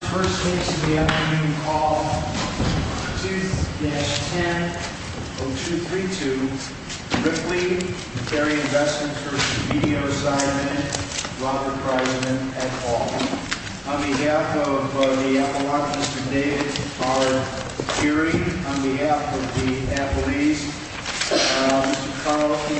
First case of the afternoon, call 2-10-0232, Ripley v. BDO Seidman, Robert Grisman, et al. On behalf of the Appalachians today, our jury, on behalf of the Appalachians, Mr. Carl T.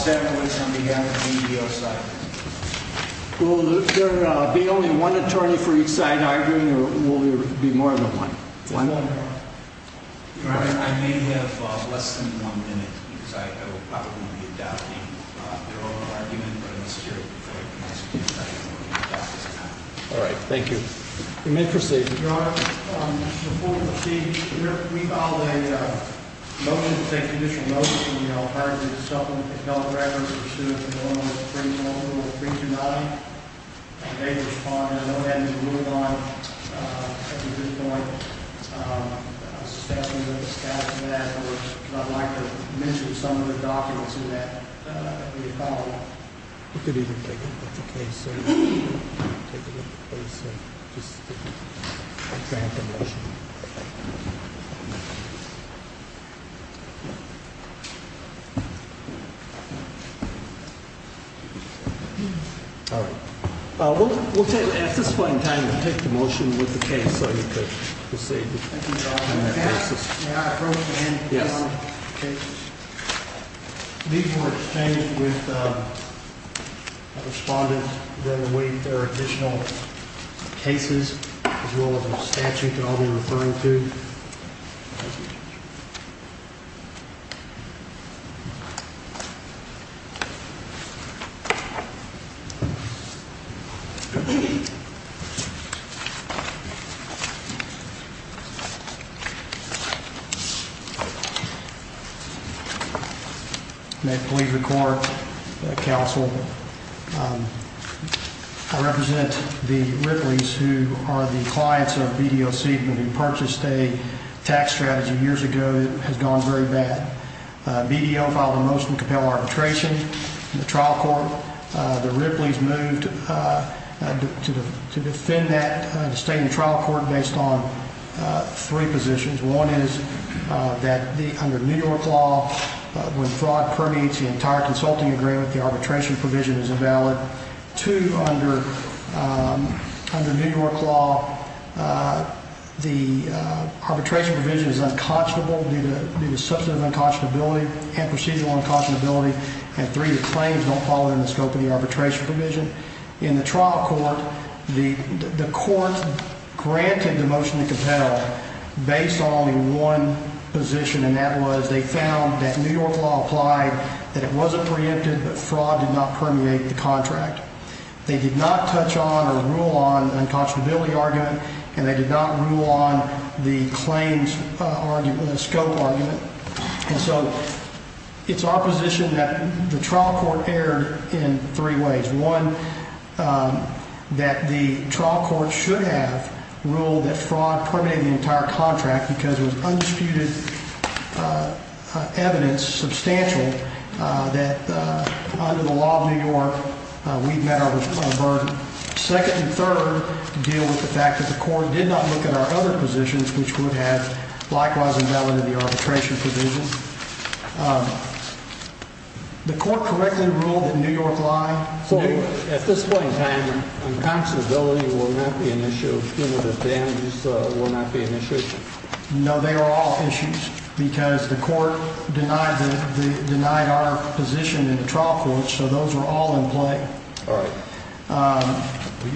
Savage, on behalf of BDO Seidman. Will there be only one attorney for each side arguing, or will there be more than one? One. Your Honor, I may have less than one minute, because I will probably be doubting their oral argument, but in the spirit of the court, I will not doubt this time. All right, thank you. You may proceed. Thank you, Your Honor. Before we proceed, we filed a motion, it's a conditional motion, you know, a pardon, a supplement, an appellate record, pursuant to norm 3-9. I may respond, I know that is ruled on at this point. Staff will discuss that, or I'd like to mention some of the documents in that, in the follow-up. You could even take a look at the case, sir. Take a look at the case, sir. Just to expand the motion. All right. We'll take, at this point in time, we'll take the motion with the case, so you could proceed. Thank you, Your Honor. May I approach the end? Yes. Okay. These were exchanged with a respondent during the week. There are additional cases as well as a statute that I'll be referring to. May it please the court, counsel. I represent the Ripley's, who are the clients of BDO Seidman, who purchased a tax strategy years ago that has gone very bad. BDO filed a motion to compel arbitration in the trial court. The Ripley's moved to defend that in the state trial court based on three positions. One is that under New York law, when fraud permeates the entire consulting agreement, the arbitration provision is invalid. Two, under New York law, the arbitration provision is unconscionable due to substantive unconscionability and procedural unconscionability. And three, the claims don't fall within the scope of the arbitration provision. In the trial court, the court granted the motion to compel based on only one position, and that was they found that New York law applied, that it wasn't preempted, but fraud did not permeate the contract. They did not touch on or rule on the unconscionability argument, and they did not rule on the claims scope argument. And so it's our position that the trial court erred in three ways. One, that the trial court should have ruled that fraud permeated the entire contract because there was undisputed evidence, substantial, that under the law of New York, we met our burden. Second and third, deal with the fact that the court did not look at our other positions, which would have likewise invalid in the arbitration provision. The court correctly ruled that New York lied. So at this point in time, unconscionability will not be an issue, punitive damages will not be an issue? No, they are all issues because the court denied our position in the trial court, so those were all in play. All right.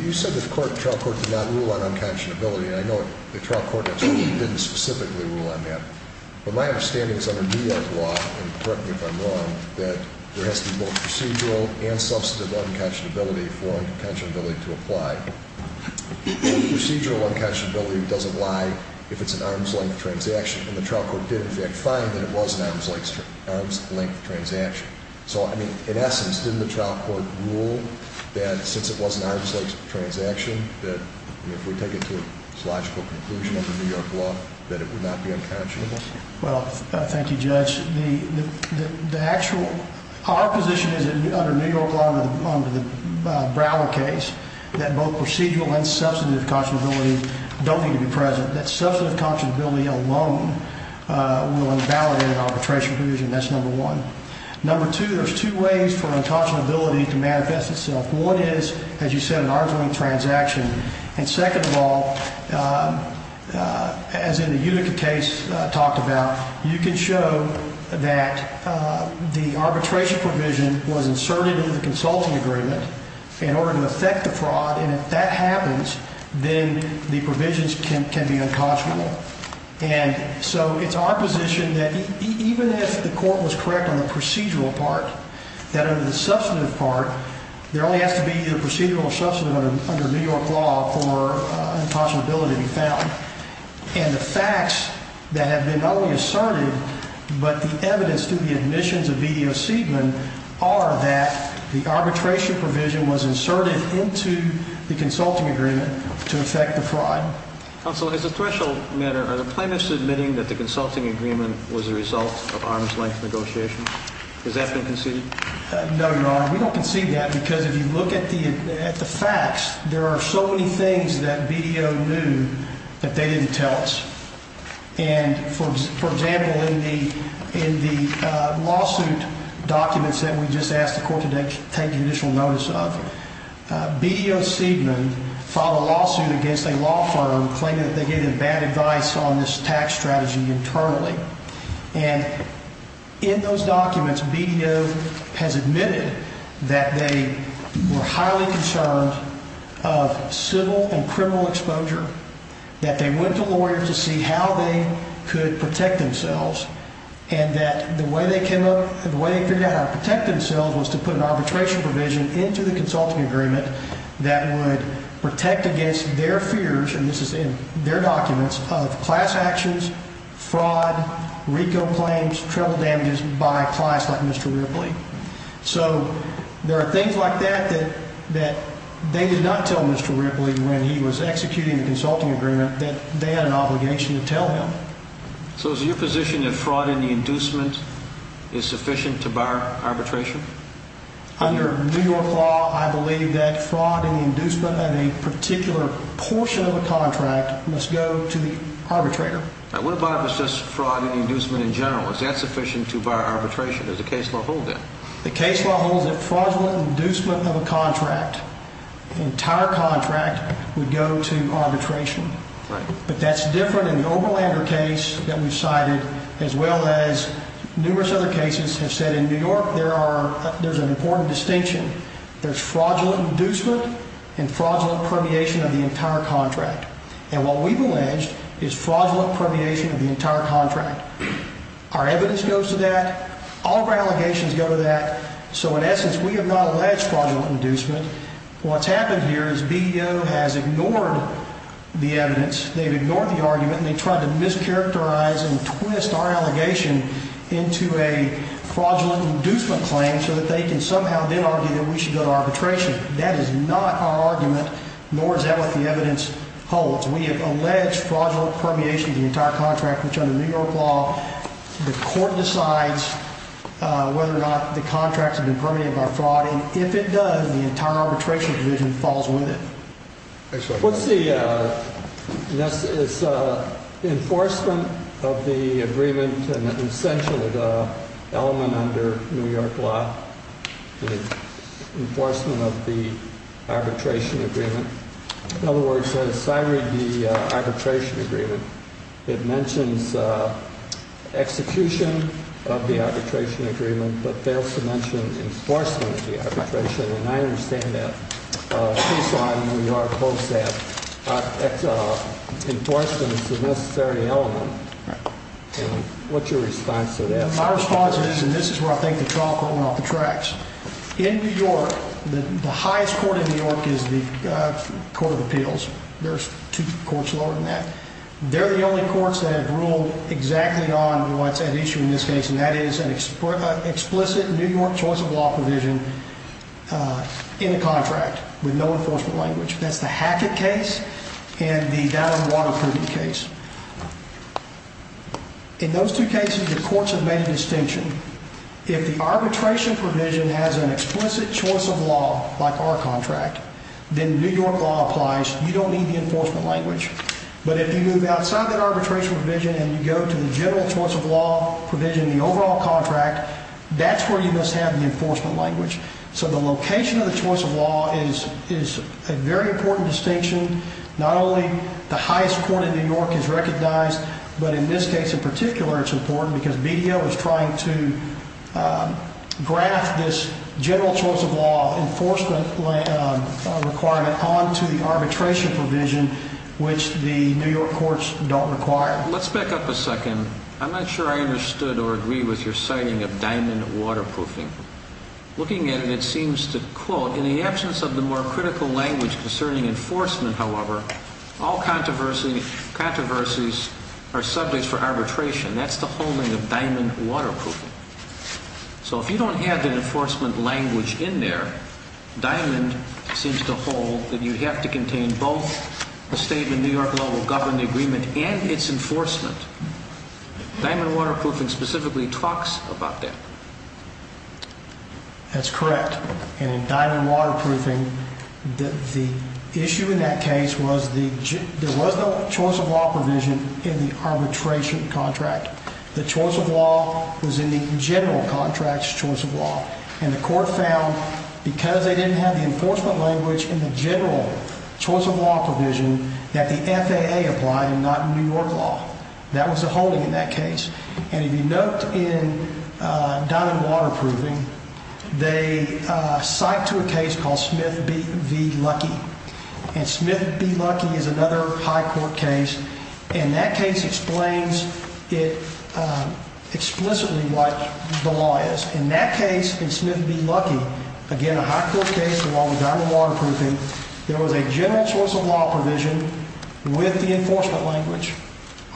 You said the trial court did not rule on unconscionability, and I know the trial court actually didn't specifically rule on that. But my understanding is under New York law, and correct me if I'm wrong, that there has to be both procedural and substantive unconscionability for unconscionability to apply. Procedural unconscionability doesn't lie if it's an arm's length transaction, and the trial court did in fact find that it was an arm's length transaction. So in essence, didn't the trial court rule that since it was an arm's length transaction, that if we take it to a philosophical conclusion under New York law, that it would not be unconscionable? Well, thank you, Judge. Our position is that under New York law, under the Broward case, that both procedural and substantive unconscionability don't need to be present. That substantive unconscionability alone will invalidate an arbitration provision. That's number one. Number two, there's two ways for unconscionability to manifest itself. One is, as you said, an arm's length transaction. And second of all, as in the Utica case I talked about, you can show that the arbitration provision was inserted into the consulting agreement in order to affect the fraud. And if that happens, then the provisions can be unconscionable. And so it's our position that even if the court was correct on the procedural part, that under the substantive part, there only has to be either procedural or substantive under New York law for an impossibility to be found. And the facts that have been not only asserted, but the evidence through the admissions of BDO Seidman, are that the arbitration provision was inserted into the consulting agreement to affect the fraud. Counsel, as a threshold matter, are the plaintiffs admitting that the consulting agreement was a result of arm's length negotiations? Has that been conceded? No, Your Honor. We don't concede that because if you look at the facts, there are so many things that BDO knew that they didn't tell us. And for example, in the lawsuit documents that we just asked the court to take judicial notice of, BDO Seidman filed a lawsuit against a law firm claiming that they gave them bad advice on this tax strategy internally. And in those documents, BDO has admitted that they were highly concerned of civil and criminal exposure, that they went to lawyers to see how they could protect themselves. And that the way they came up, the way they figured out how to protect themselves was to put an arbitration provision into the consulting agreement that would protect against their fears, and this is in their documents, of class actions, fraud, RICO claims, treble damages by clients like Mr. Ripley. So there are things like that that they did not tell Mr. Ripley when he was executing the consulting agreement that they had an obligation to tell him. So is it your position that fraud in the inducement is sufficient to bar arbitration? Under New York law, I believe that fraud in the inducement of a particular portion of a contract must go to the arbitrator. What about if it's just fraud in the inducement in general? Is that sufficient to bar arbitration? Does the case law hold that? The case law holds that fraudulent inducement of a contract, entire contract, would go to arbitration. But that's different in the Oberlander case that we've cited, as well as numerous other cases have said in New York there's an important distinction. There's fraudulent inducement and fraudulent permeation of the entire contract. And what we've alleged is fraudulent permeation of the entire contract. Our evidence goes to that. All of our allegations go to that. So in essence, we have not alleged fraudulent inducement. What's happened here is BDO has ignored the evidence. They've ignored the argument, and they've tried to mischaracterize and twist our allegation into a fraudulent inducement claim so that they can somehow then argue that we should go to arbitration. That is not our argument, nor is that what the evidence holds. We have alleged fraudulent permeation of the entire contract, which under New York law, the court decides whether or not the contract has been permeated by fraud. And if it does, the entire arbitration division falls with it. What's the enforcement of the agreement and essentially the element under New York law, the enforcement of the arbitration agreement? In other words, as I read the arbitration agreement, it mentions execution of the arbitration agreement, but fails to mention enforcement of the arbitration agreement. I understand that. Please slide, and we are close to that. Enforcement is a necessary element. And what's your response to that? My response is, and this is where I think the trial court went off the tracks. In New York, the highest court in New York is the Court of Appeals. There's two courts lower than that. They're the only courts that have ruled exactly on what's at issue in this case, and that is an explicit New York choice of law provision in a contract with no enforcement language. That's the Hackett case and the Downing Waterproofing case. In those two cases, the courts have made a distinction. If the arbitration provision has an explicit choice of law like our contract, then New York law applies. You don't need the enforcement language. But if you move outside that arbitration provision and you go to the general choice of law provision in the overall contract, that's where you must have the enforcement language. So the location of the choice of law is a very important distinction. Not only the highest court in New York is recognized, but in this case in particular it's important because BDO is trying to graft this general choice of law enforcement requirement onto the arbitration provision, which the New York courts don't require. Let's back up a second. I'm not sure I understood or agree with your citing of diamond waterproofing. Looking at it, it seems to quote, in the absence of the more critical language concerning enforcement, however, all controversies are subject for arbitration. That's the whole thing of diamond waterproofing. So if you don't have the enforcement language in there, diamond seems to hold that you have to contain both the statement New York law will govern the agreement and its enforcement. Diamond waterproofing specifically talks about that. That's correct. And in diamond waterproofing, the issue in that case was there was no choice of law provision in the arbitration contract. The choice of law was in the general contract's choice of law. And the court found because they didn't have the enforcement language in the general choice of law provision that the FAA applied and not New York law. That was the holding in that case. And if you note in diamond waterproofing, they cite to a case called Smith v. Luckey. And Smith v. Luckey is another high court case. And that case explains it explicitly what the law is. In that case, in Smith v. Luckey, again, a high court case, the law was diamond waterproofing. There was a general choice of law provision with the enforcement language.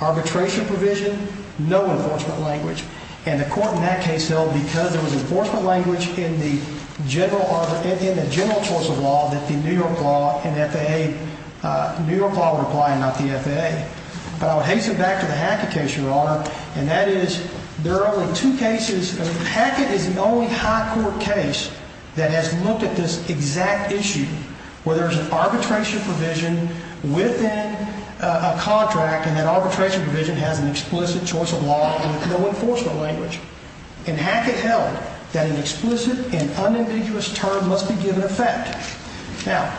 Arbitration provision, no enforcement language. And the court in that case held because there was enforcement language in the general choice of law that the New York law and FAA, New York law would apply and not the FAA. But I would hasten back to the Hackett case, Your Honor, and that is there are only two cases. Hackett is the only high court case that has looked at this exact issue where there's an arbitration provision within a contract. And that arbitration provision has an explicit choice of law and no enforcement language. And Hackett held that an explicit and unambiguous term must be given effect. Now,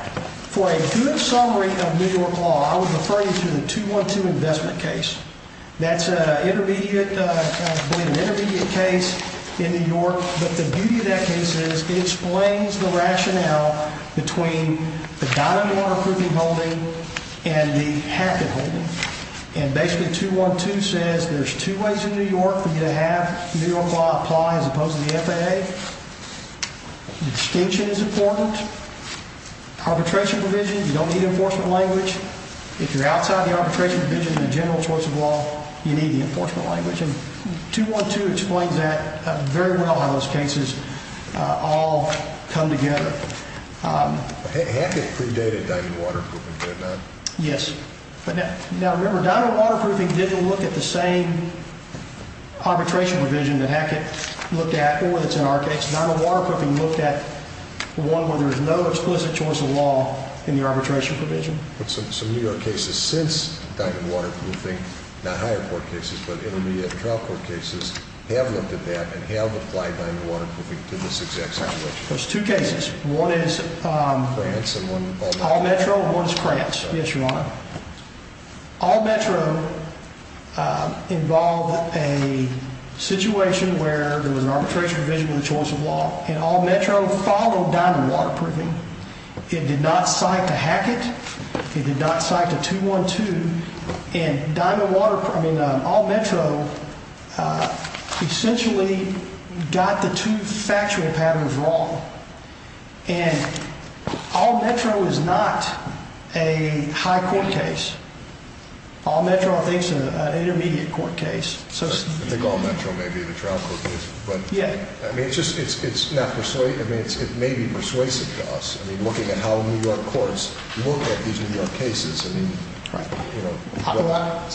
for a good summary of New York law, I would refer you to the 212 investment case. That's an intermediate case in New York. But the beauty of that case is it explains the rationale between the diamond waterproofing holding and the Hackett holding. And basically, 212 says there's two ways in New York for you to have New York law apply as opposed to the FAA. Distinction is important. Arbitration provision, you don't need enforcement language. If you're outside the arbitration provision in the general choice of law, you need the enforcement language. And 212 explains that very well how those cases all come together. Hackett predated diamond waterproofing, did it not? Yes. Now, remember, diamond waterproofing didn't look at the same arbitration provision that Hackett looked at or that's in our case. Diamond waterproofing looked at one where there's no explicit choice of law in the arbitration provision. But some New York cases since diamond waterproofing, not higher court cases but intermediate trial court cases, have looked at that and have applied diamond waterproofing to this exact situation. There's two cases. One is All Metro and one is Krantz. Yes, Your Honor. All Metro involved a situation where there was an arbitration provision in the choice of law. And All Metro followed diamond waterproofing. It did not cite to Hackett. It did not cite to 212. And diamond waterproofing, I mean, All Metro essentially got the two facturing patterns wrong. And All Metro is not a high court case. All Metro, I think, is an intermediate court case. I think All Metro may be the trial court case. Yeah. I mean, it may be persuasive to us. I mean, looking at how New York courts look at these New York cases. I mean, it's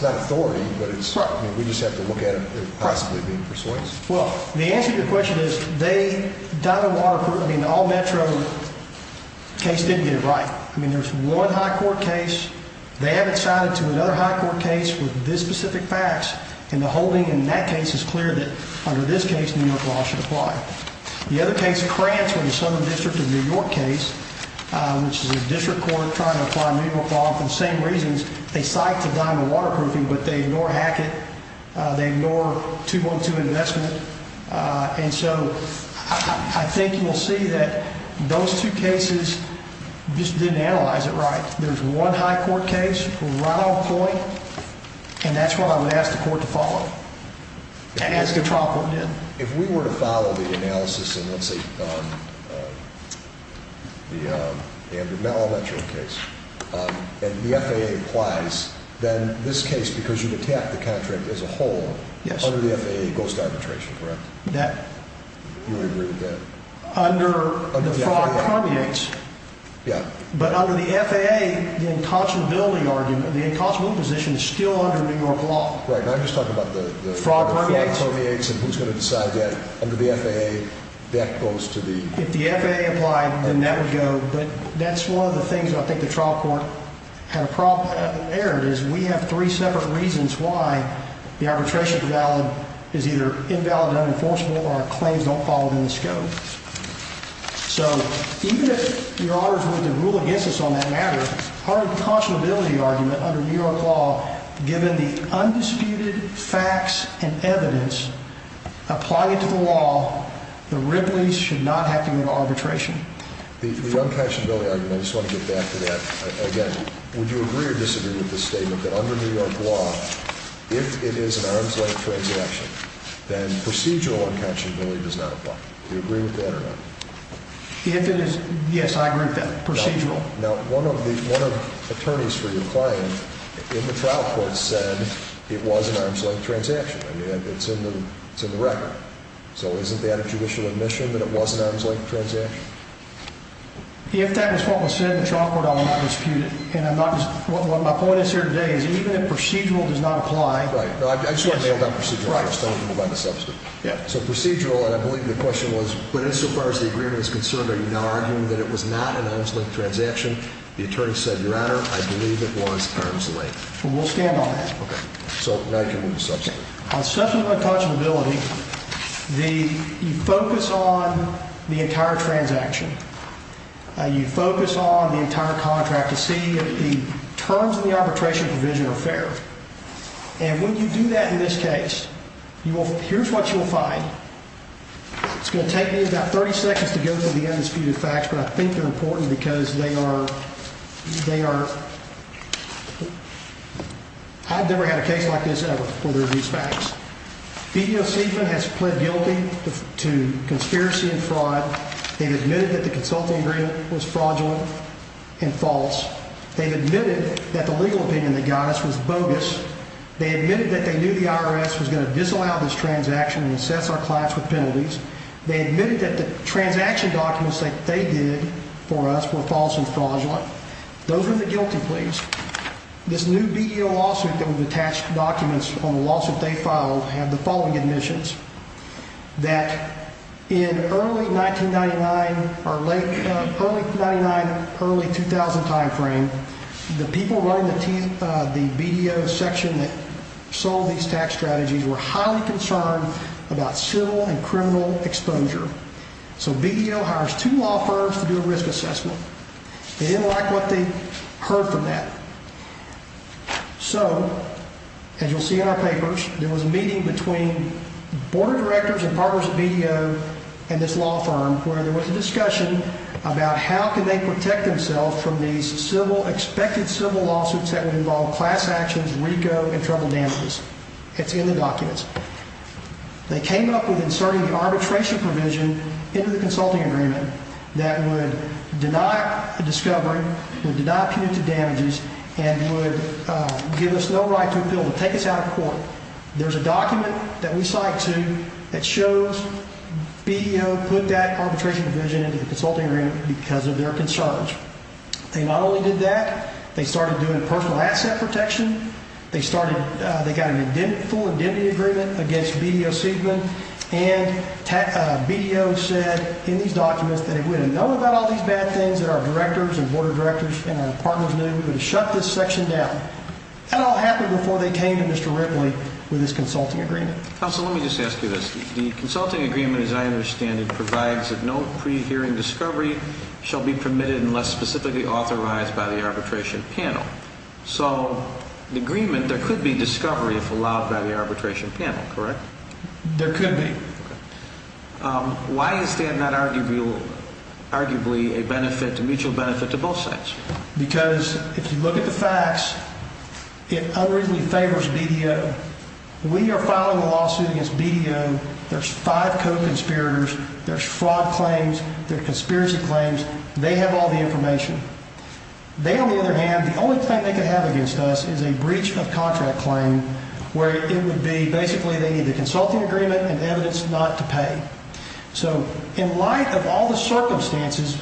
not authority, but we just have to look at it possibly being persuasive. Well, the answer to your question is they diamond waterproofed. I mean, the All Metro case didn't get it right. I mean, there's one high court case. They haven't cited to another high court case with this specific facts. And the holding in that case is clear that under this case New York law should apply. The other case, Krantz, was a Southern District of New York case, which is a district court trying to apply New York law for the same reasons. They cite to diamond waterproofing, but they ignore Hackett. They ignore 2.2 investment. And so I think you'll see that those two cases just didn't analyze it right. There's one high court case, Ronald Coy, and that's what I would ask the court to follow as the trial court did. If we were to follow the analysis in, let's say, the Andrew Mellon Metro case, and the FAA applies, then this case, because you attacked the contract as a whole, under the FAA goes to arbitration, correct? That. You agree with that? Under the fraud permeates. Yeah. But under the FAA, the inconsolability argument, the inconsolability position is still under New York law. Right. And I'm just talking about the fraud permeates and who's going to decide that. Under the FAA, that goes to the— If the FAA applied, then that would go. But that's one of the things I think the trial court had erred is we have three separate reasons why the arbitration is either invalid, unenforceable, or claims don't fall within the scope. So even if your honors were to rule against us on that matter, our inconsolability argument under New York law, given the undisputed facts and evidence, applying it to the law, the Ripley's should not have to go to arbitration. The unconsolability argument, I just want to get back to that. Again, would you agree or disagree with this statement that under New York law, if it is an arms-length transaction, then procedural unconsolability does not apply? Do you agree with that or not? If it is—yes, I agree with that. Procedural. Now, one of the attorneys for your client in the trial court said it was an arms-length transaction. I mean, it's in the record. So isn't that a judicial admission that it was an arms-length transaction? If that is what was said in the trial court, I will not dispute it. And I'm not—what my point is here today is even if procedural does not apply— Right. No, I just want to nail down procedural first. Then we can move on to subsequent. Yeah. So procedural, and I believe the question was, but insofar as the agreement is concerned, are you now arguing that it was not an arms-length transaction? The attorney said, your honor, I believe it was arms-length. We'll stand on that. Okay. So now you can move to subsequent. On subsequent unconscionability, you focus on the entire transaction. You focus on the entire contract to see if the terms of the arbitration provision are fair. And when you do that in this case, here's what you'll find. It's going to take me about 30 seconds to go through the undisputed facts, but I think they're important because they are— I've never had a case like this ever, where there are these facts. BEOC has pled guilty to conspiracy and fraud. They've admitted that the consulting agreement was fraudulent and false. They've admitted that the legal opinion they got us was bogus. They admitted that they knew the IRS was going to disallow this transaction and assess our clients with penalties. They admitted that the transaction documents that they did for us were false and fraudulent. Those are the guilty pleas. This new BEO lawsuit that would attach documents on the lawsuit they filed had the following admissions. That in early 1999 or late—early 1999, early 2000 timeframe, the people running the BEO section that sold these tax strategies were highly concerned about civil and criminal exposure. So BEO hires two law firms to do a risk assessment. They didn't like what they heard from that. So, as you'll see in our papers, there was a meeting between board of directors and partners of BEO and this law firm where there was a discussion about how can they protect themselves from these expected civil lawsuits that would involve class actions, RICO, and federal damages. It's in the documents. They came up with inserting the arbitration provision into the consulting agreement that would deny a discovery, would deny punitive damages, and would give us no right to appeal, to take us out of court. There's a document that we cite to that shows BEO put that arbitration provision into the consulting agreement because of their concerns. They not only did that, they started doing personal asset protection. They got a full indemnity agreement against BEO Siegman, and BEO said in these documents that if we didn't know about all these bad things that our directors and board of directors and our partners knew, we would have shut this section down. That all happened before they came to Mr. Ripley with this consulting agreement. Counsel, let me just ask you this. The consulting agreement, as I understand it, provides that no pre-hearing discovery shall be permitted unless specifically authorized by the arbitration panel. So, the agreement, there could be discovery if allowed by the arbitration panel, correct? There could be. Why is that not arguably a mutual benefit to both sides? Because if you look at the facts, it unreasonably favors BEO. We are filing a lawsuit against BEO. There's five co-conspirators. There's fraud claims. There are conspiracy claims. They have all the information. They, on the other hand, the only claim they could have against us is a breach of contract claim where it would be basically they need the consulting agreement and evidence not to pay. So, in light of all the circumstances,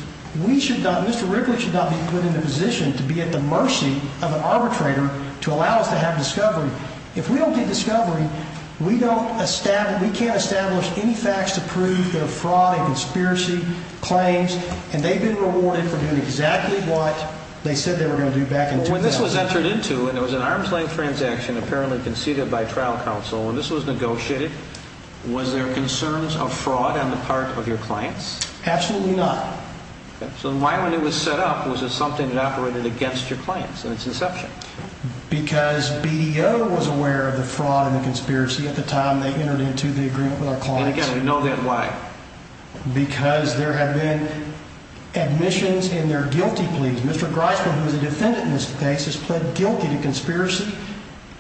we should not, Mr. Ripley should not be put in the position to be at the mercy of an arbitrator to allow us to have discovery. If we don't get discovery, we don't establish, we can't establish any facts to prove the fraud and conspiracy claims, and they've been rewarded for doing exactly what they said they were going to do back in 2000. When this was entered into, and it was an arm's-length transaction apparently conceded by trial counsel, when this was negotiated, was there concerns of fraud on the part of your clients? Absolutely not. So why, when it was set up, was it something that operated against your clients in its inception? Because BEO was aware of the fraud and the conspiracy at the time they entered into the agreement with our clients. And, again, we know that. Why? Because there have been admissions in their guilty pleas. Mr. Griswold, who is a defendant in this case, has pled guilty to conspiracy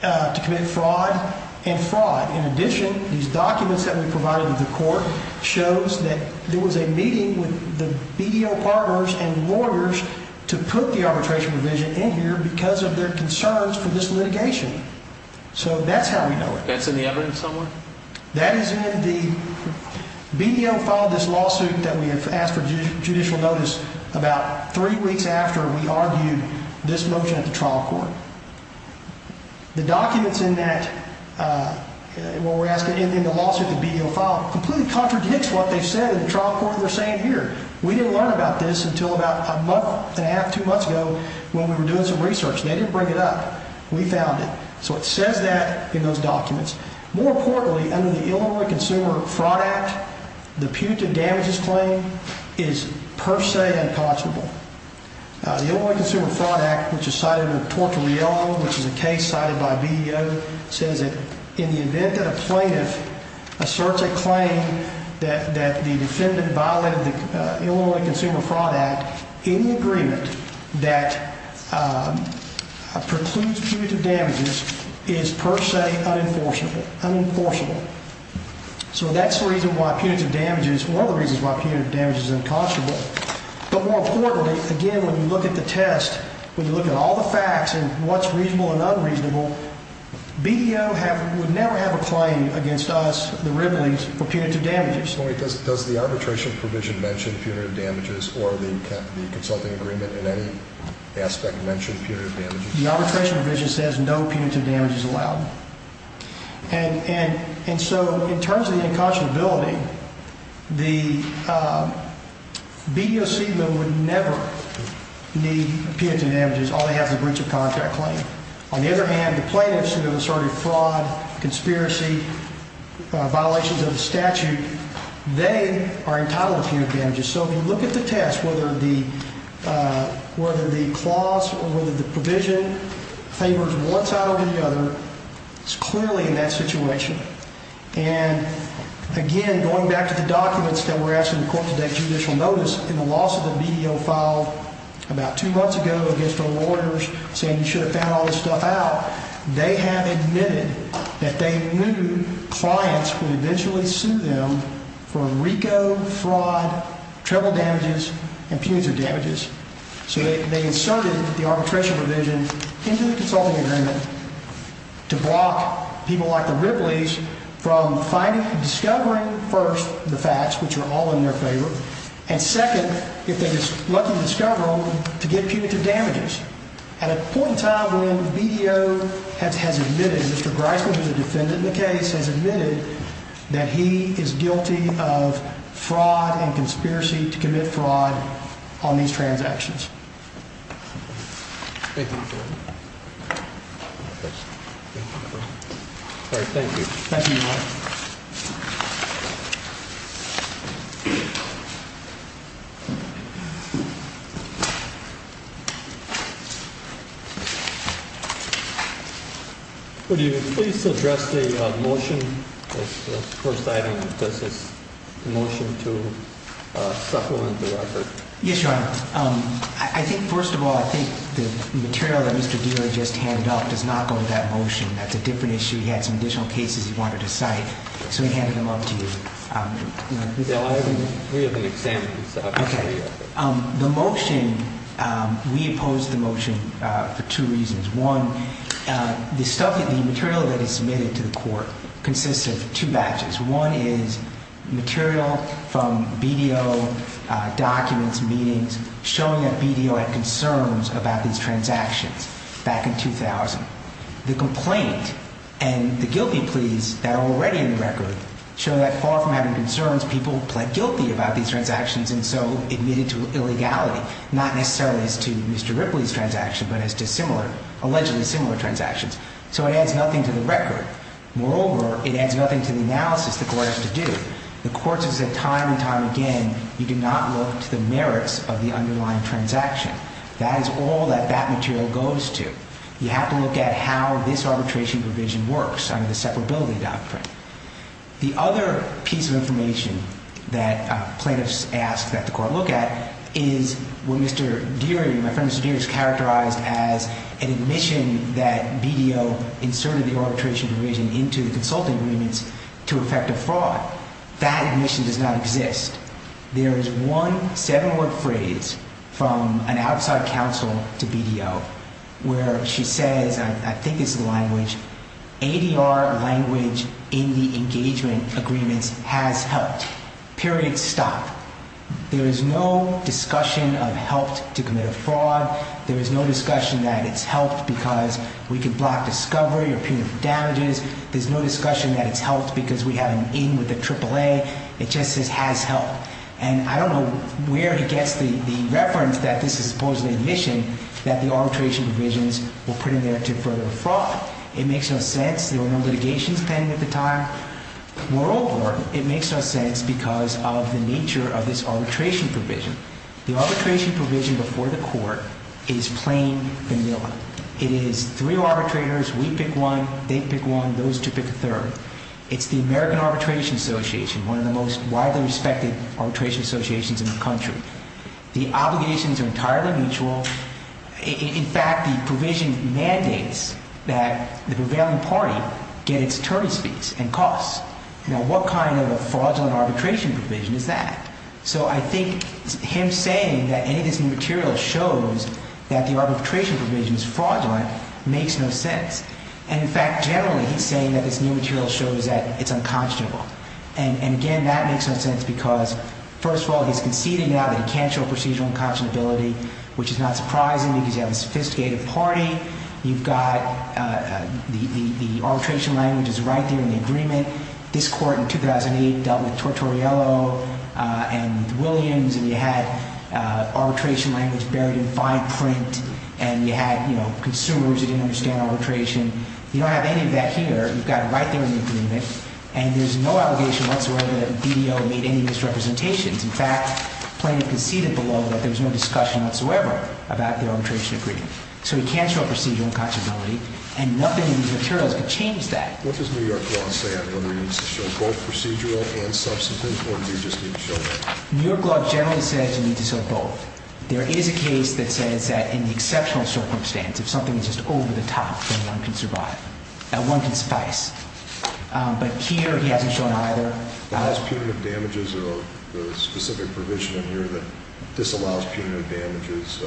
to commit fraud and fraud. In addition, these documents that we provided to the court shows that there was a meeting with the BEO partners and lawyers to put the arbitration provision in here because of their concerns for this litigation. So that's how we know it. That's in the evidence somewhere? That is in the, BEO filed this lawsuit that we have asked for judicial notice about three weeks after we argued this motion at the trial court. The documents in that, in the lawsuit, the BEO file, completely contradicts what they said in the trial court they're saying here. We didn't learn about this until about a month and a half, two months ago, when we were doing some research. They didn't bring it up. We found it. So it says that in those documents. More importantly, under the Illinois Consumer Fraud Act, the punitive damages claim is per se unconscionable. The Illinois Consumer Fraud Act, which is cited under Torture Reel, which is a case cited by BEO, says that in the event that a plaintiff asserts a claim that the defendant violated the Illinois Consumer Fraud Act, any agreement that precludes punitive damages is per se unenforceable. So that's the reason why punitive damages, one of the reasons why punitive damages is unconscionable. But more importantly, again, when you look at the test, when you look at all the facts and what's reasonable and unreasonable, BEO would never have a claim against us, the Riddleys, for punitive damages. Does the arbitration provision mention punitive damages or the consulting agreement in any aspect mention punitive damages? The arbitration provision says no punitive damage is allowed. And so in terms of the unconscionability, the BEOC would never need punitive damages, all they have is a breach of contract claim. On the other hand, the plaintiffs who have asserted fraud, conspiracy, violations of the statute, they are entitled to punitive damages. So if you look at the test, whether the clause or whether the provision favors one side or the other, it's clearly in that situation. And again, going back to the documents that were actually in court today, judicial notice, in the loss of the BEO file about two months ago against the lawyers saying you should have found all this stuff out, they have admitted that they knew clients would eventually sue them for RICO fraud, treble damages, and punitive damages. So they inserted the arbitration provision into the consulting agreement to block people like the Ripley's from discovering first the facts, which are all in their favor, and second, if they're lucky to discover them, to get punitive damages at a point in time when BDO has admitted, Mr. Griswold, who's a defendant in the case, has admitted that he is guilty of fraud and conspiracy to commit fraud on these transactions. Thank you. Thank you. Thank you. Thank you. Would you please address the motion? Does this motion to supplement the record? I think first of all, I think the material that Mr. Griswold just handed up does not go with that motion. That's a different issue. He had some additional cases he wanted to cite, so he handed them up to you. The motion, we opposed the motion for two reasons. One, the material that is submitted to the court consists of two batches. One is material from BDO documents, meetings, showing that BDO had concerns about these transactions back in 2000. The complaint and the guilty pleas that are already in the record show that far from having concerns, people pled guilty about these transactions and so admitted to illegality, not necessarily as to Mr. Ripley's transaction, but as to what the court has to do. The court has said time and time again, you do not look to the merits of the underlying transaction. That is all that that material goes to. You have to look at how this arbitration provision works under the separability doctrine. The other piece of information that plaintiffs ask that the court look at is what Mr. Ripley has to say. He has to say that the court has to look at how BDO inserted the arbitration provision into the consulting agreements to effect a fraud. That admission does not exist. There is one seven-word phrase from an outside counsel to BDO where she says, I think it's the language, ADR language in the engagement agreements has helped. Period. Stop. There is no discussion of helped to commit a fraud. There is no discussion that it's helped because we can block discovery or punitive damages. There's no discussion that it's helped because we have an in with the triple A. It just says has helped. And I don't know where he gets the reference that this is supposedly admission that the arbitration provisions will put in there to further a fraud. It makes no sense. There were no litigations pending at the time. Worldward, it makes no sense because of the nature of this arbitration provision. The arbitration provision before the court is plain vanilla. It is three arbitrators, we pick one, they pick one, those two pick a third. It's the American Arbitration Association, one of the most widely respected arbitration associations in the country. The obligations are entirely mutual. In fact, the provision mandates that the prevailing party get its attorney's fees and costs. Now, what kind of a fraudulent arbitration provision is that? So I think him saying that any of this new material shows that the arbitration provision is fraudulent makes no sense. And, in fact, generally he's saying that this new material shows that it's unconscionable. And, again, that makes no sense because, first of all, he's conceding now that he can't show procedural unconscionability, which is not surprising because you have a sophisticated party. You've got the arbitration language is right there in the agreement. This court in 2008 dealt with Tortorello and with Williams, and you had arbitration language buried in fine print, and you had consumers who didn't understand arbitration. You don't have any of that here. You've got it right there in the agreement, and there's no allegation whatsoever that DDO made any misrepresentations. In fact, plaintiff conceded below that there was no discussion whatsoever about the arbitration agreement. So he can't show procedural unconscionability, and nothing in these materials can change that. What does New York law say on whether he needs to show both procedural and substantive, or do you just need to show both? New York law generally says you need to show both. There is a case that says that in the exceptional circumstance, if something is just over the top, then one can survive, that one can suffice. But here he hasn't shown either. Does that allow punitive damages or is there a specific provision in here that disallows punitive damages?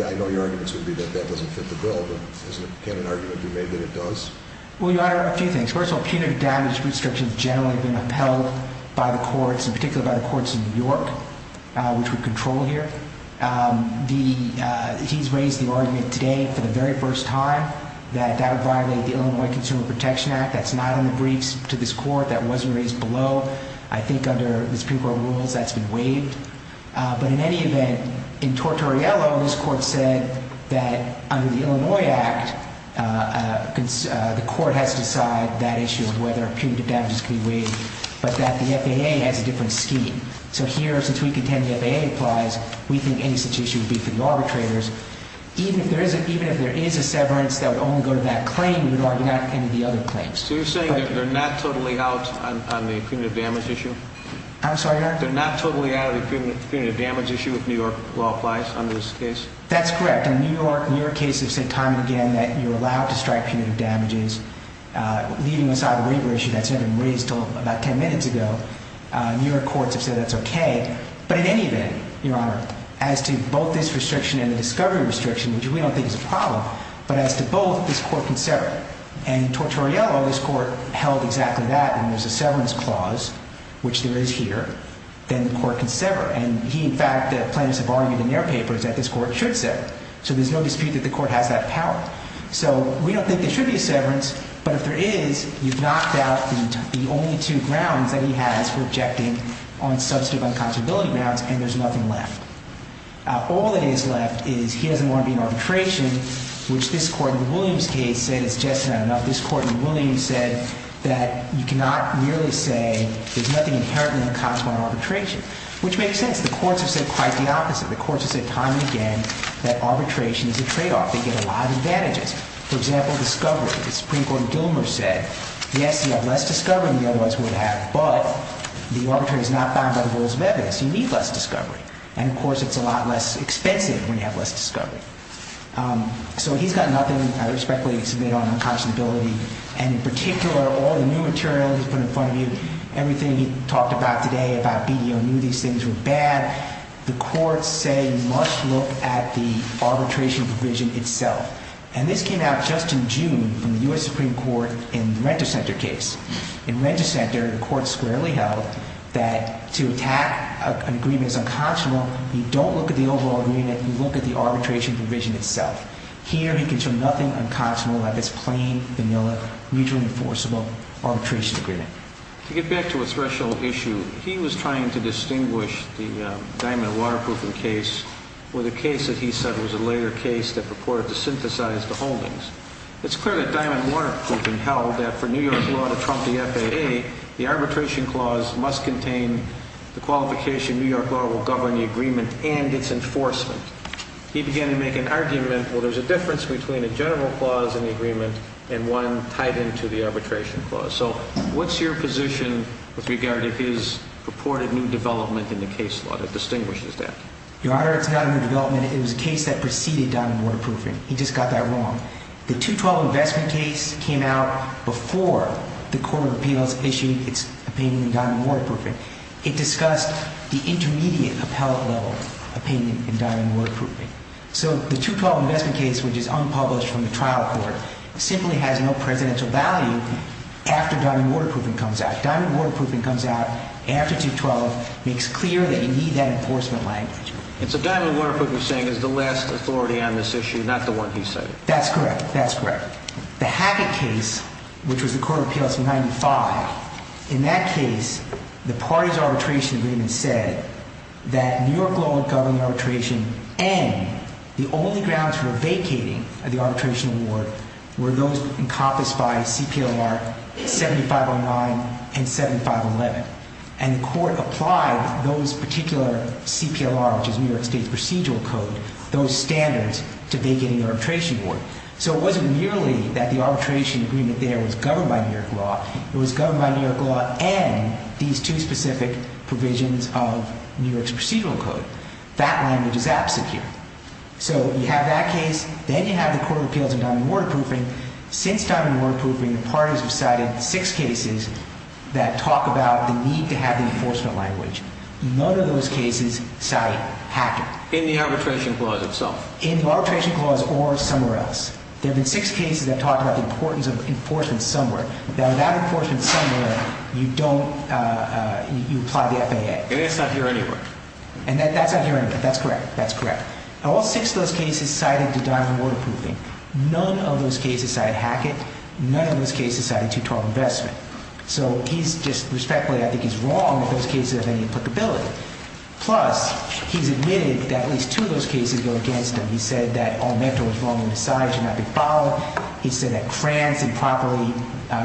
I know your argument is going to be that that doesn't fit the bill, but isn't it a candid argument you made that it does? Well, Your Honor, a few things. First of all, punitive damage restrictions generally have been upheld by the courts, in particular by the courts in New York, which we control here. He's raised the argument today for the very first time that that would violate the Illinois Consumer Protection Act, that's not on the briefs to this Court, that wasn't raised below. I think under the Supreme Court rules, that's been waived. But in any event, in Tortorello, this Court said that under the Illinois Act, the Court has to decide that issue of whether punitive damages can be waived, but that the FAA has a different scheme. So here, since we contend the FAA applies, we think any such issue would be for the arbitrators. Even if there is a severance that would only go to that claim, we would argue not any of the other claims. So you're saying that they're not totally out on the punitive damage issue? I'm sorry, Your Honor? They're not totally out on the punitive damage issue if New York law applies on this case? That's correct. In New York, New York cases have said time and again that you're allowed to strike punitive damages. Leaving aside the waiver issue that's never been raised until about 10 minutes ago, New York courts have said that's okay. But in any event, Your Honor, as to both this restriction and the discovery restriction, which we don't think is a problem, but as to both, this Court can sever. And in Tortorello, this Court held exactly that. And there's a severance clause, which there is here, then the Court can sever. And he, in fact, the plaintiffs have argued in their papers that this Court should sever. So there's no dispute that the Court has that power. So we don't think there should be a severance, but if there is, you've knocked out the only two grounds that he has for objecting on substantive unconscionability grounds, and there's nothing left. All that is left is he doesn't want to be in arbitration, which this Court in the Williams case said is just not enough. This Court in the Williams said that you cannot merely say there's nothing inherently unconscionable in arbitration, which makes sense. The courts have said quite the opposite. The courts have said time and again that arbitration is a tradeoff. They get a lot of advantages. For example, discovery. The Supreme Court in Dilmer said, yes, you have less discovery than you otherwise would have, but the arbitration is not bound by the rules of evidence. You need less discovery. And, of course, it's a lot less expensive when you have less discovery. So he's got nothing. I respectfully submit on unconscionability, and in particular, all the new material he's put in front of you, everything he talked about today about BDO, knew these things were bad. The courts say you must look at the arbitration provision itself. And this came out just in June from the U.S. Supreme Court in the Rent-A-Center case. In Rent-A-Center, the court squarely held that to attack an agreement as unconscionable, you don't look at the overall agreement. You look at the arbitration provision itself. Here, he can show nothing unconscionable about this plain, vanilla, mutually enforceable arbitration agreement. To get back to a special issue, he was trying to distinguish the Diamond Waterproofing case with a case that he said was a later case that purported to synthesize the holdings. It's clear that Diamond Waterproofing held that for New York law to trump the FAA, the arbitration clause must contain the qualification New York law will govern the agreement and its enforcement. He began to make an argument, well, there's a difference between a general clause in the agreement and one tied into the arbitration clause. So what's your position with regard to his purported new development in the case law that distinguishes that? Your Honor, it's not a new development. It was a case that preceded Diamond Waterproofing. He just got that wrong. The 212 investment case came out before the court of appeals issued its opinion in Diamond Waterproofing. It discussed the intermediate appellate level opinion in Diamond Waterproofing. So the 212 investment case, which is unpublished from the trial court, simply has no presidential value after Diamond Waterproofing comes out. Diamond Waterproofing comes out after 212, makes clear that you need that enforcement language. And so Diamond Waterproofing is saying is the last authority on this issue, not the one he cited. That's correct. That's correct. The Hackett case, which was the court of appeals in 95, in that case, the party's arbitration agreement said that New York law would govern arbitration and the only grounds for vacating the arbitration award were those encompassed by CPLR 7509 and 7511. And the court applied those particular CPLR, which is New York State's procedural code, those standards to vacating the arbitration award. So it wasn't merely that the arbitration agreement there was governed by New York law. It was governed by New York law and these two specific provisions of New York's procedural code. That language is absecure. So you have that case, then you have the court of appeals in Diamond Waterproofing. Since Diamond Waterproofing, the parties have cited six cases that talk about the need to have the enforcement language. None of those cases cite Hackett. In the arbitration clause itself? In the arbitration clause or somewhere else. There have been six cases that talk about the importance of enforcement somewhere. Now, without enforcement somewhere, you don't, you apply the FAA. And that's not here anywhere. And that's not here anywhere. That's correct. That's correct. All six of those cases cited Diamond Waterproofing. None of those cases cited Hackett. None of those cases cited 212 investment. So he's just, respectfully, I think he's wrong if those cases have any applicability. Plus, he's admitted that at least two of those cases go against him. He said that all mental was wrong and misogyny should not be followed. He said that France improperly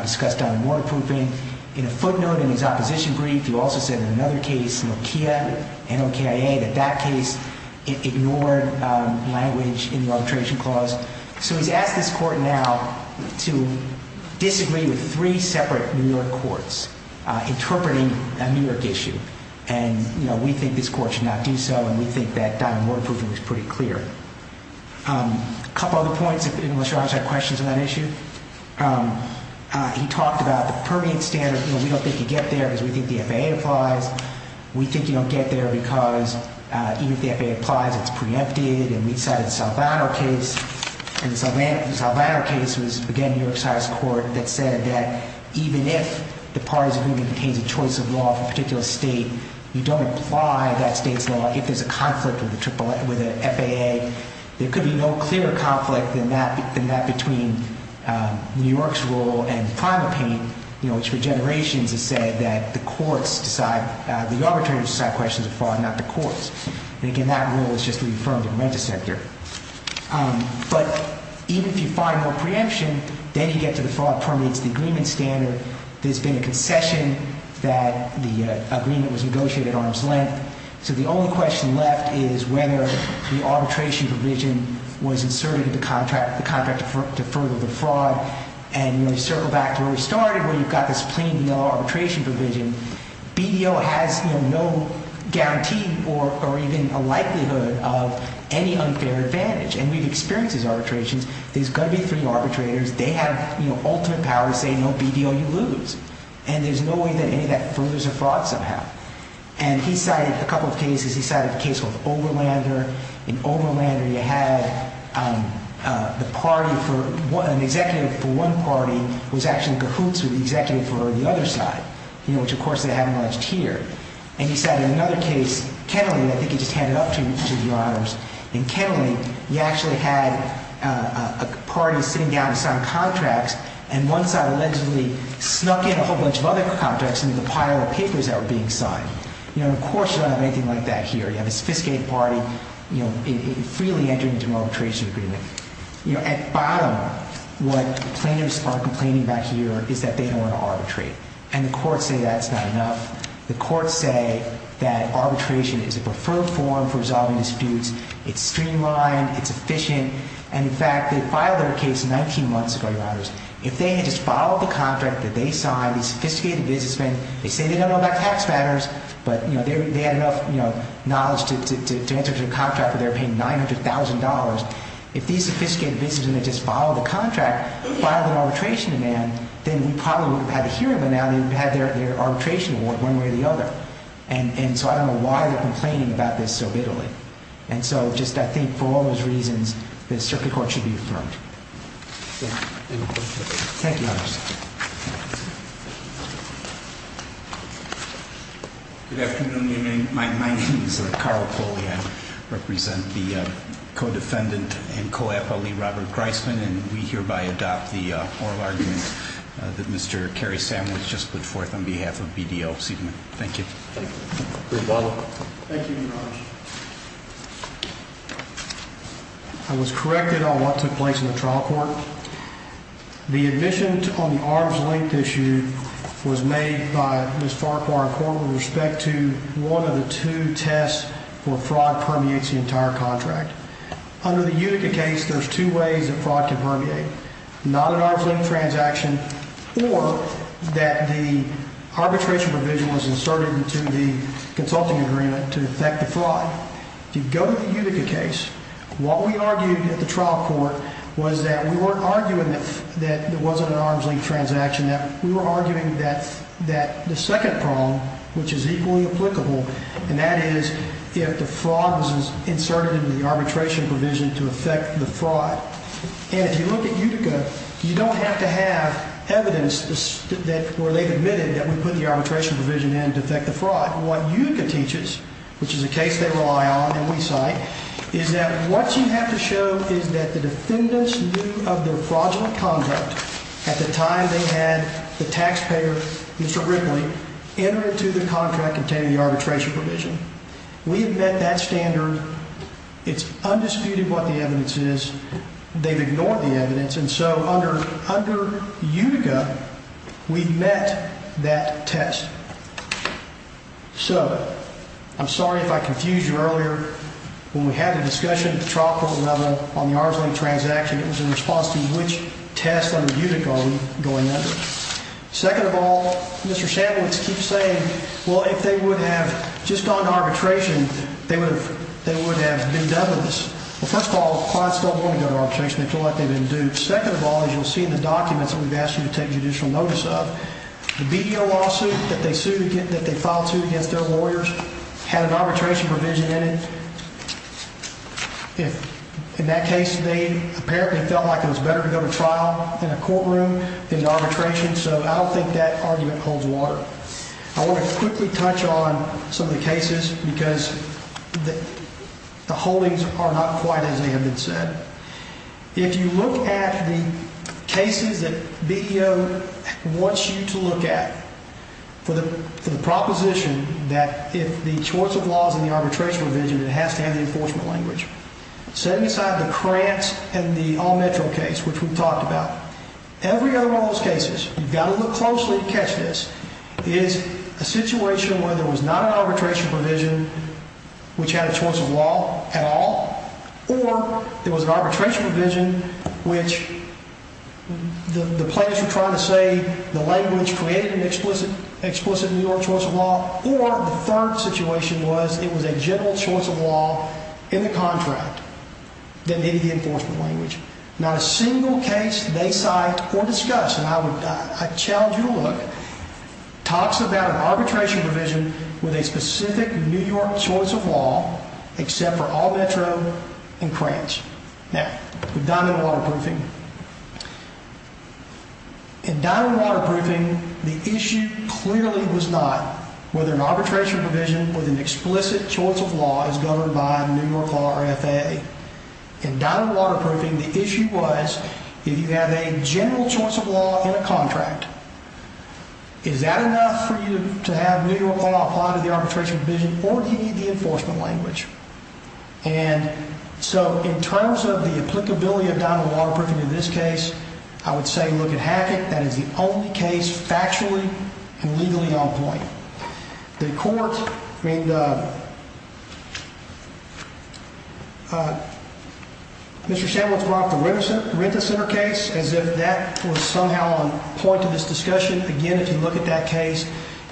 discussed Diamond Waterproofing. In a footnote in his opposition brief, he also said in another case, Nokia, N-O-K-I-A, that that case ignored language in the arbitration clause. So he's asked this court now to disagree with three separate New York courts interpreting a New York issue. And, you know, we think this court should not do so. And we think that Diamond Waterproofing is pretty clear. A couple of other points, unless you have questions on that issue. He talked about the permeant standard. You know, we don't think you get there because we think the FAA applies. We think you don't get there because even if the FAA applies, it's preempted. And we cited the Salvano case. And the Salvano case was, again, New York's highest court that said that even if the parties agreement contains a choice of law for a particular state, you don't apply that state's law if there's a conflict with the FAA. There could be no clearer conflict than that between New York's rule and PrimalPaint, you know, which for generations has said that the courts decide, the arbitrators decide questions of fraud, not the courts. And, again, that rule is just reaffirmed and re-sent here. But even if you find more preemption, then you get to the fraud permeates the agreement standard. There's been a concession that the agreement was negotiated at arm's length. So the only question left is whether the arbitration provision was inserted into the contract to further the fraud. And, you know, you circle back to where we started where you've got this plain, you know, arbitration provision. BDO has, you know, no guarantee or even a likelihood of any unfair advantage. And we've experienced these arbitrations. There's got to be three arbitrators. They have, you know, ultimate power to say, no, BDO, you lose. And there's no way that any of that furthers a fraud somehow. And he cited a couple of cases. He cited a case called Overlander. In Overlander, you had the party for an executive for one party was actually in cahoots with the executive for the other side, you know, which, of course, they haven't alleged here. And he cited another case, Kennelly. I think he just handed it up to you, Your Honors. In Kennelly, you actually had a party sitting down to sign contracts. And one side allegedly snuck in a whole bunch of other contracts into the pile of papers that were being signed. You know, of course, you don't have anything like that here. You have a sophisticated party, you know, freely entering into an arbitration agreement. You know, at bottom, what plaintiffs are complaining about here is that they don't want to arbitrate. And the courts say that's not enough. The courts say that arbitration is a preferred form for resolving disputes. It's streamlined. It's efficient. And, in fact, they filed their case 19 months ago, Your Honors. If they had just followed the contract that they signed, these sophisticated businessmen, they say they don't know about tax matters, but, you know, they had enough, you know, knowledge to enter into a contract where they were paying $900,000. If these sophisticated businessmen had just followed the contract, filed an arbitration demand, then we probably would have had a hearing by now. They would have had their arbitration award one way or the other. And so I don't know why they're complaining about this so bitterly. And so just I think for all those reasons, the Circuit Court should be affirmed. Thank you, Your Honors. Good afternoon, Your Honor. My name is Carl Foley. I represent the co-defendant and co-appellee Robert Greisman, and we hereby adopt the oral argument that Mr. Cary Sandwich just put forth on behalf of BDL Seidman. Thank you. Thank you, Your Honor. I was corrected on what took place in the trial court. The admission on the arm's length issue was made by Ms. Farquhar and Corwin with respect to one of the two tests where fraud permeates the entire contract. Under the Utica case, there's two ways that fraud can permeate, not an arm's length transaction or that the arbitration provision was inserted into the consulting agreement to affect the fraud. If you go to the Utica case, what we argued at the trial court was that we weren't arguing that there wasn't an arm's length transaction. We were arguing that the second problem, which is equally applicable, and that is if the fraud was inserted into the arbitration provision to affect the fraud. And if you look at Utica, you don't have to have evidence where they've admitted that we put the arbitration provision in to affect the fraud. What Utica teaches, which is a case they rely on and we cite, is that what you have to show is that the defendants knew of their fraudulent conduct at the time they had the taxpayer, Mr. Ripley, enter into the contract containing the arbitration provision. We have met that standard. It's undisputed what the evidence is. They've ignored the evidence. And so under Utica, we've met that test. So I'm sorry if I confused you earlier. When we had the discussion at the trial court level on the arm's length transaction, it was in response to which test under Utica are we going under. Second of all, Mr. Shanowitz keeps saying, well, if they would have just gone to arbitration, they would have been done with this. Well, first of all, clients don't want to go to arbitration. They feel like they've been duped. Second of all, as you'll see in the documents that we've asked you to take judicial notice of, the BDO lawsuit that they filed to against their lawyers had an arbitration provision in it. In that case, they apparently felt like it was better to go to trial in a courtroom than to arbitration. So I don't think that argument holds water. I want to quickly touch on some of the cases because the holdings are not quite as they have been said. If you look at the cases that BDO wants you to look at for the proposition that if the choice of law is in the arbitration provision, it has to have the enforcement language. Setting aside the Krantz and the All-Metro case, which we've talked about, every other one of those cases, you've got to look closely to catch this, is a situation where there was not an arbitration provision which had a choice of law at all, or there was an arbitration provision which the plaintiffs were trying to say the language created an explicit New York choice of law, or the third situation was it was a general choice of law in the contract that needed the enforcement language. Not a single case they cite or discuss, and I challenge you to look, talks about an arbitration provision with a specific New York choice of law except for All-Metro and Krantz. Now, with Diamond Waterproofing, in Diamond Waterproofing, the issue clearly was not whether an arbitration provision with an explicit choice of law is governed by a New York law or FAA. In Diamond Waterproofing, the issue was if you have a general choice of law in a contract, is that enough for you to have New York law apply to the arbitration provision or do you need the enforcement language? And so in terms of the applicability of Diamond Waterproofing in this case, I would say look at Hackett. That is the only case factually and legally on point. The court, I mean, Mr. Samuels brought up the Rent-A-Center case as if that was somehow on point to this discussion. Again, if you look at that case,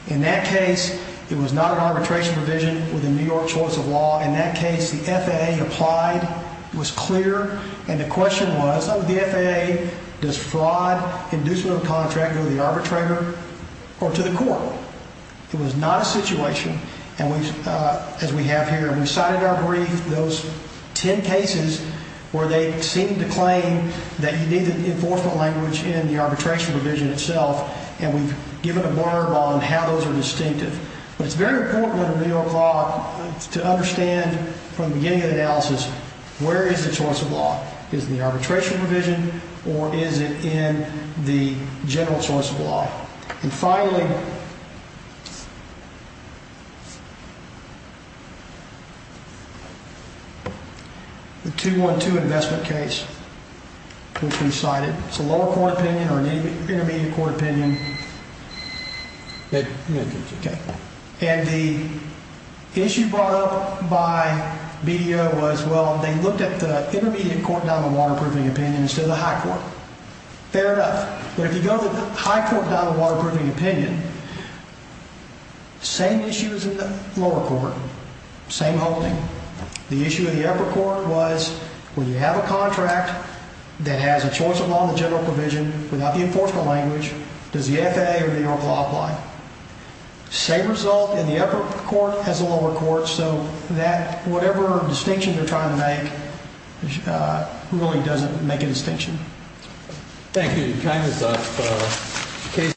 in that case, it was not an arbitration provision with a New York choice of law. In that case, the FAA applied, was clear, and the question was, oh, the FAA, does fraud, inducement of a contract go to the arbitrator or to the court? It was not a situation, as we have here, and we cited our brief. Those ten cases where they seemed to claim that you need the enforcement language in the arbitration provision itself, and we've given a blurb on how those are distinctive. But it's very important under New York law to understand from the beginning of the analysis, where is the choice of law? Is it in the arbitration provision or is it in the general choice of law? And finally, the 212 investment case, which we cited, it's a lower court opinion or an intermediate court opinion. Okay. And the issue brought up by BDO was, well, they looked at the intermediate court down the waterproofing opinion instead of the high court. Fair enough. But if you go to the high court down the waterproofing opinion, same issues in the lower court, same holding. The issue in the upper court was, when you have a contract that has a choice of law in the general provision without the enforcement language, does the FAA or the New York law apply? Same result in the upper court as the lower court. So that whatever distinction they're trying to make really doesn't make a distinction. Thank you. Your time is up.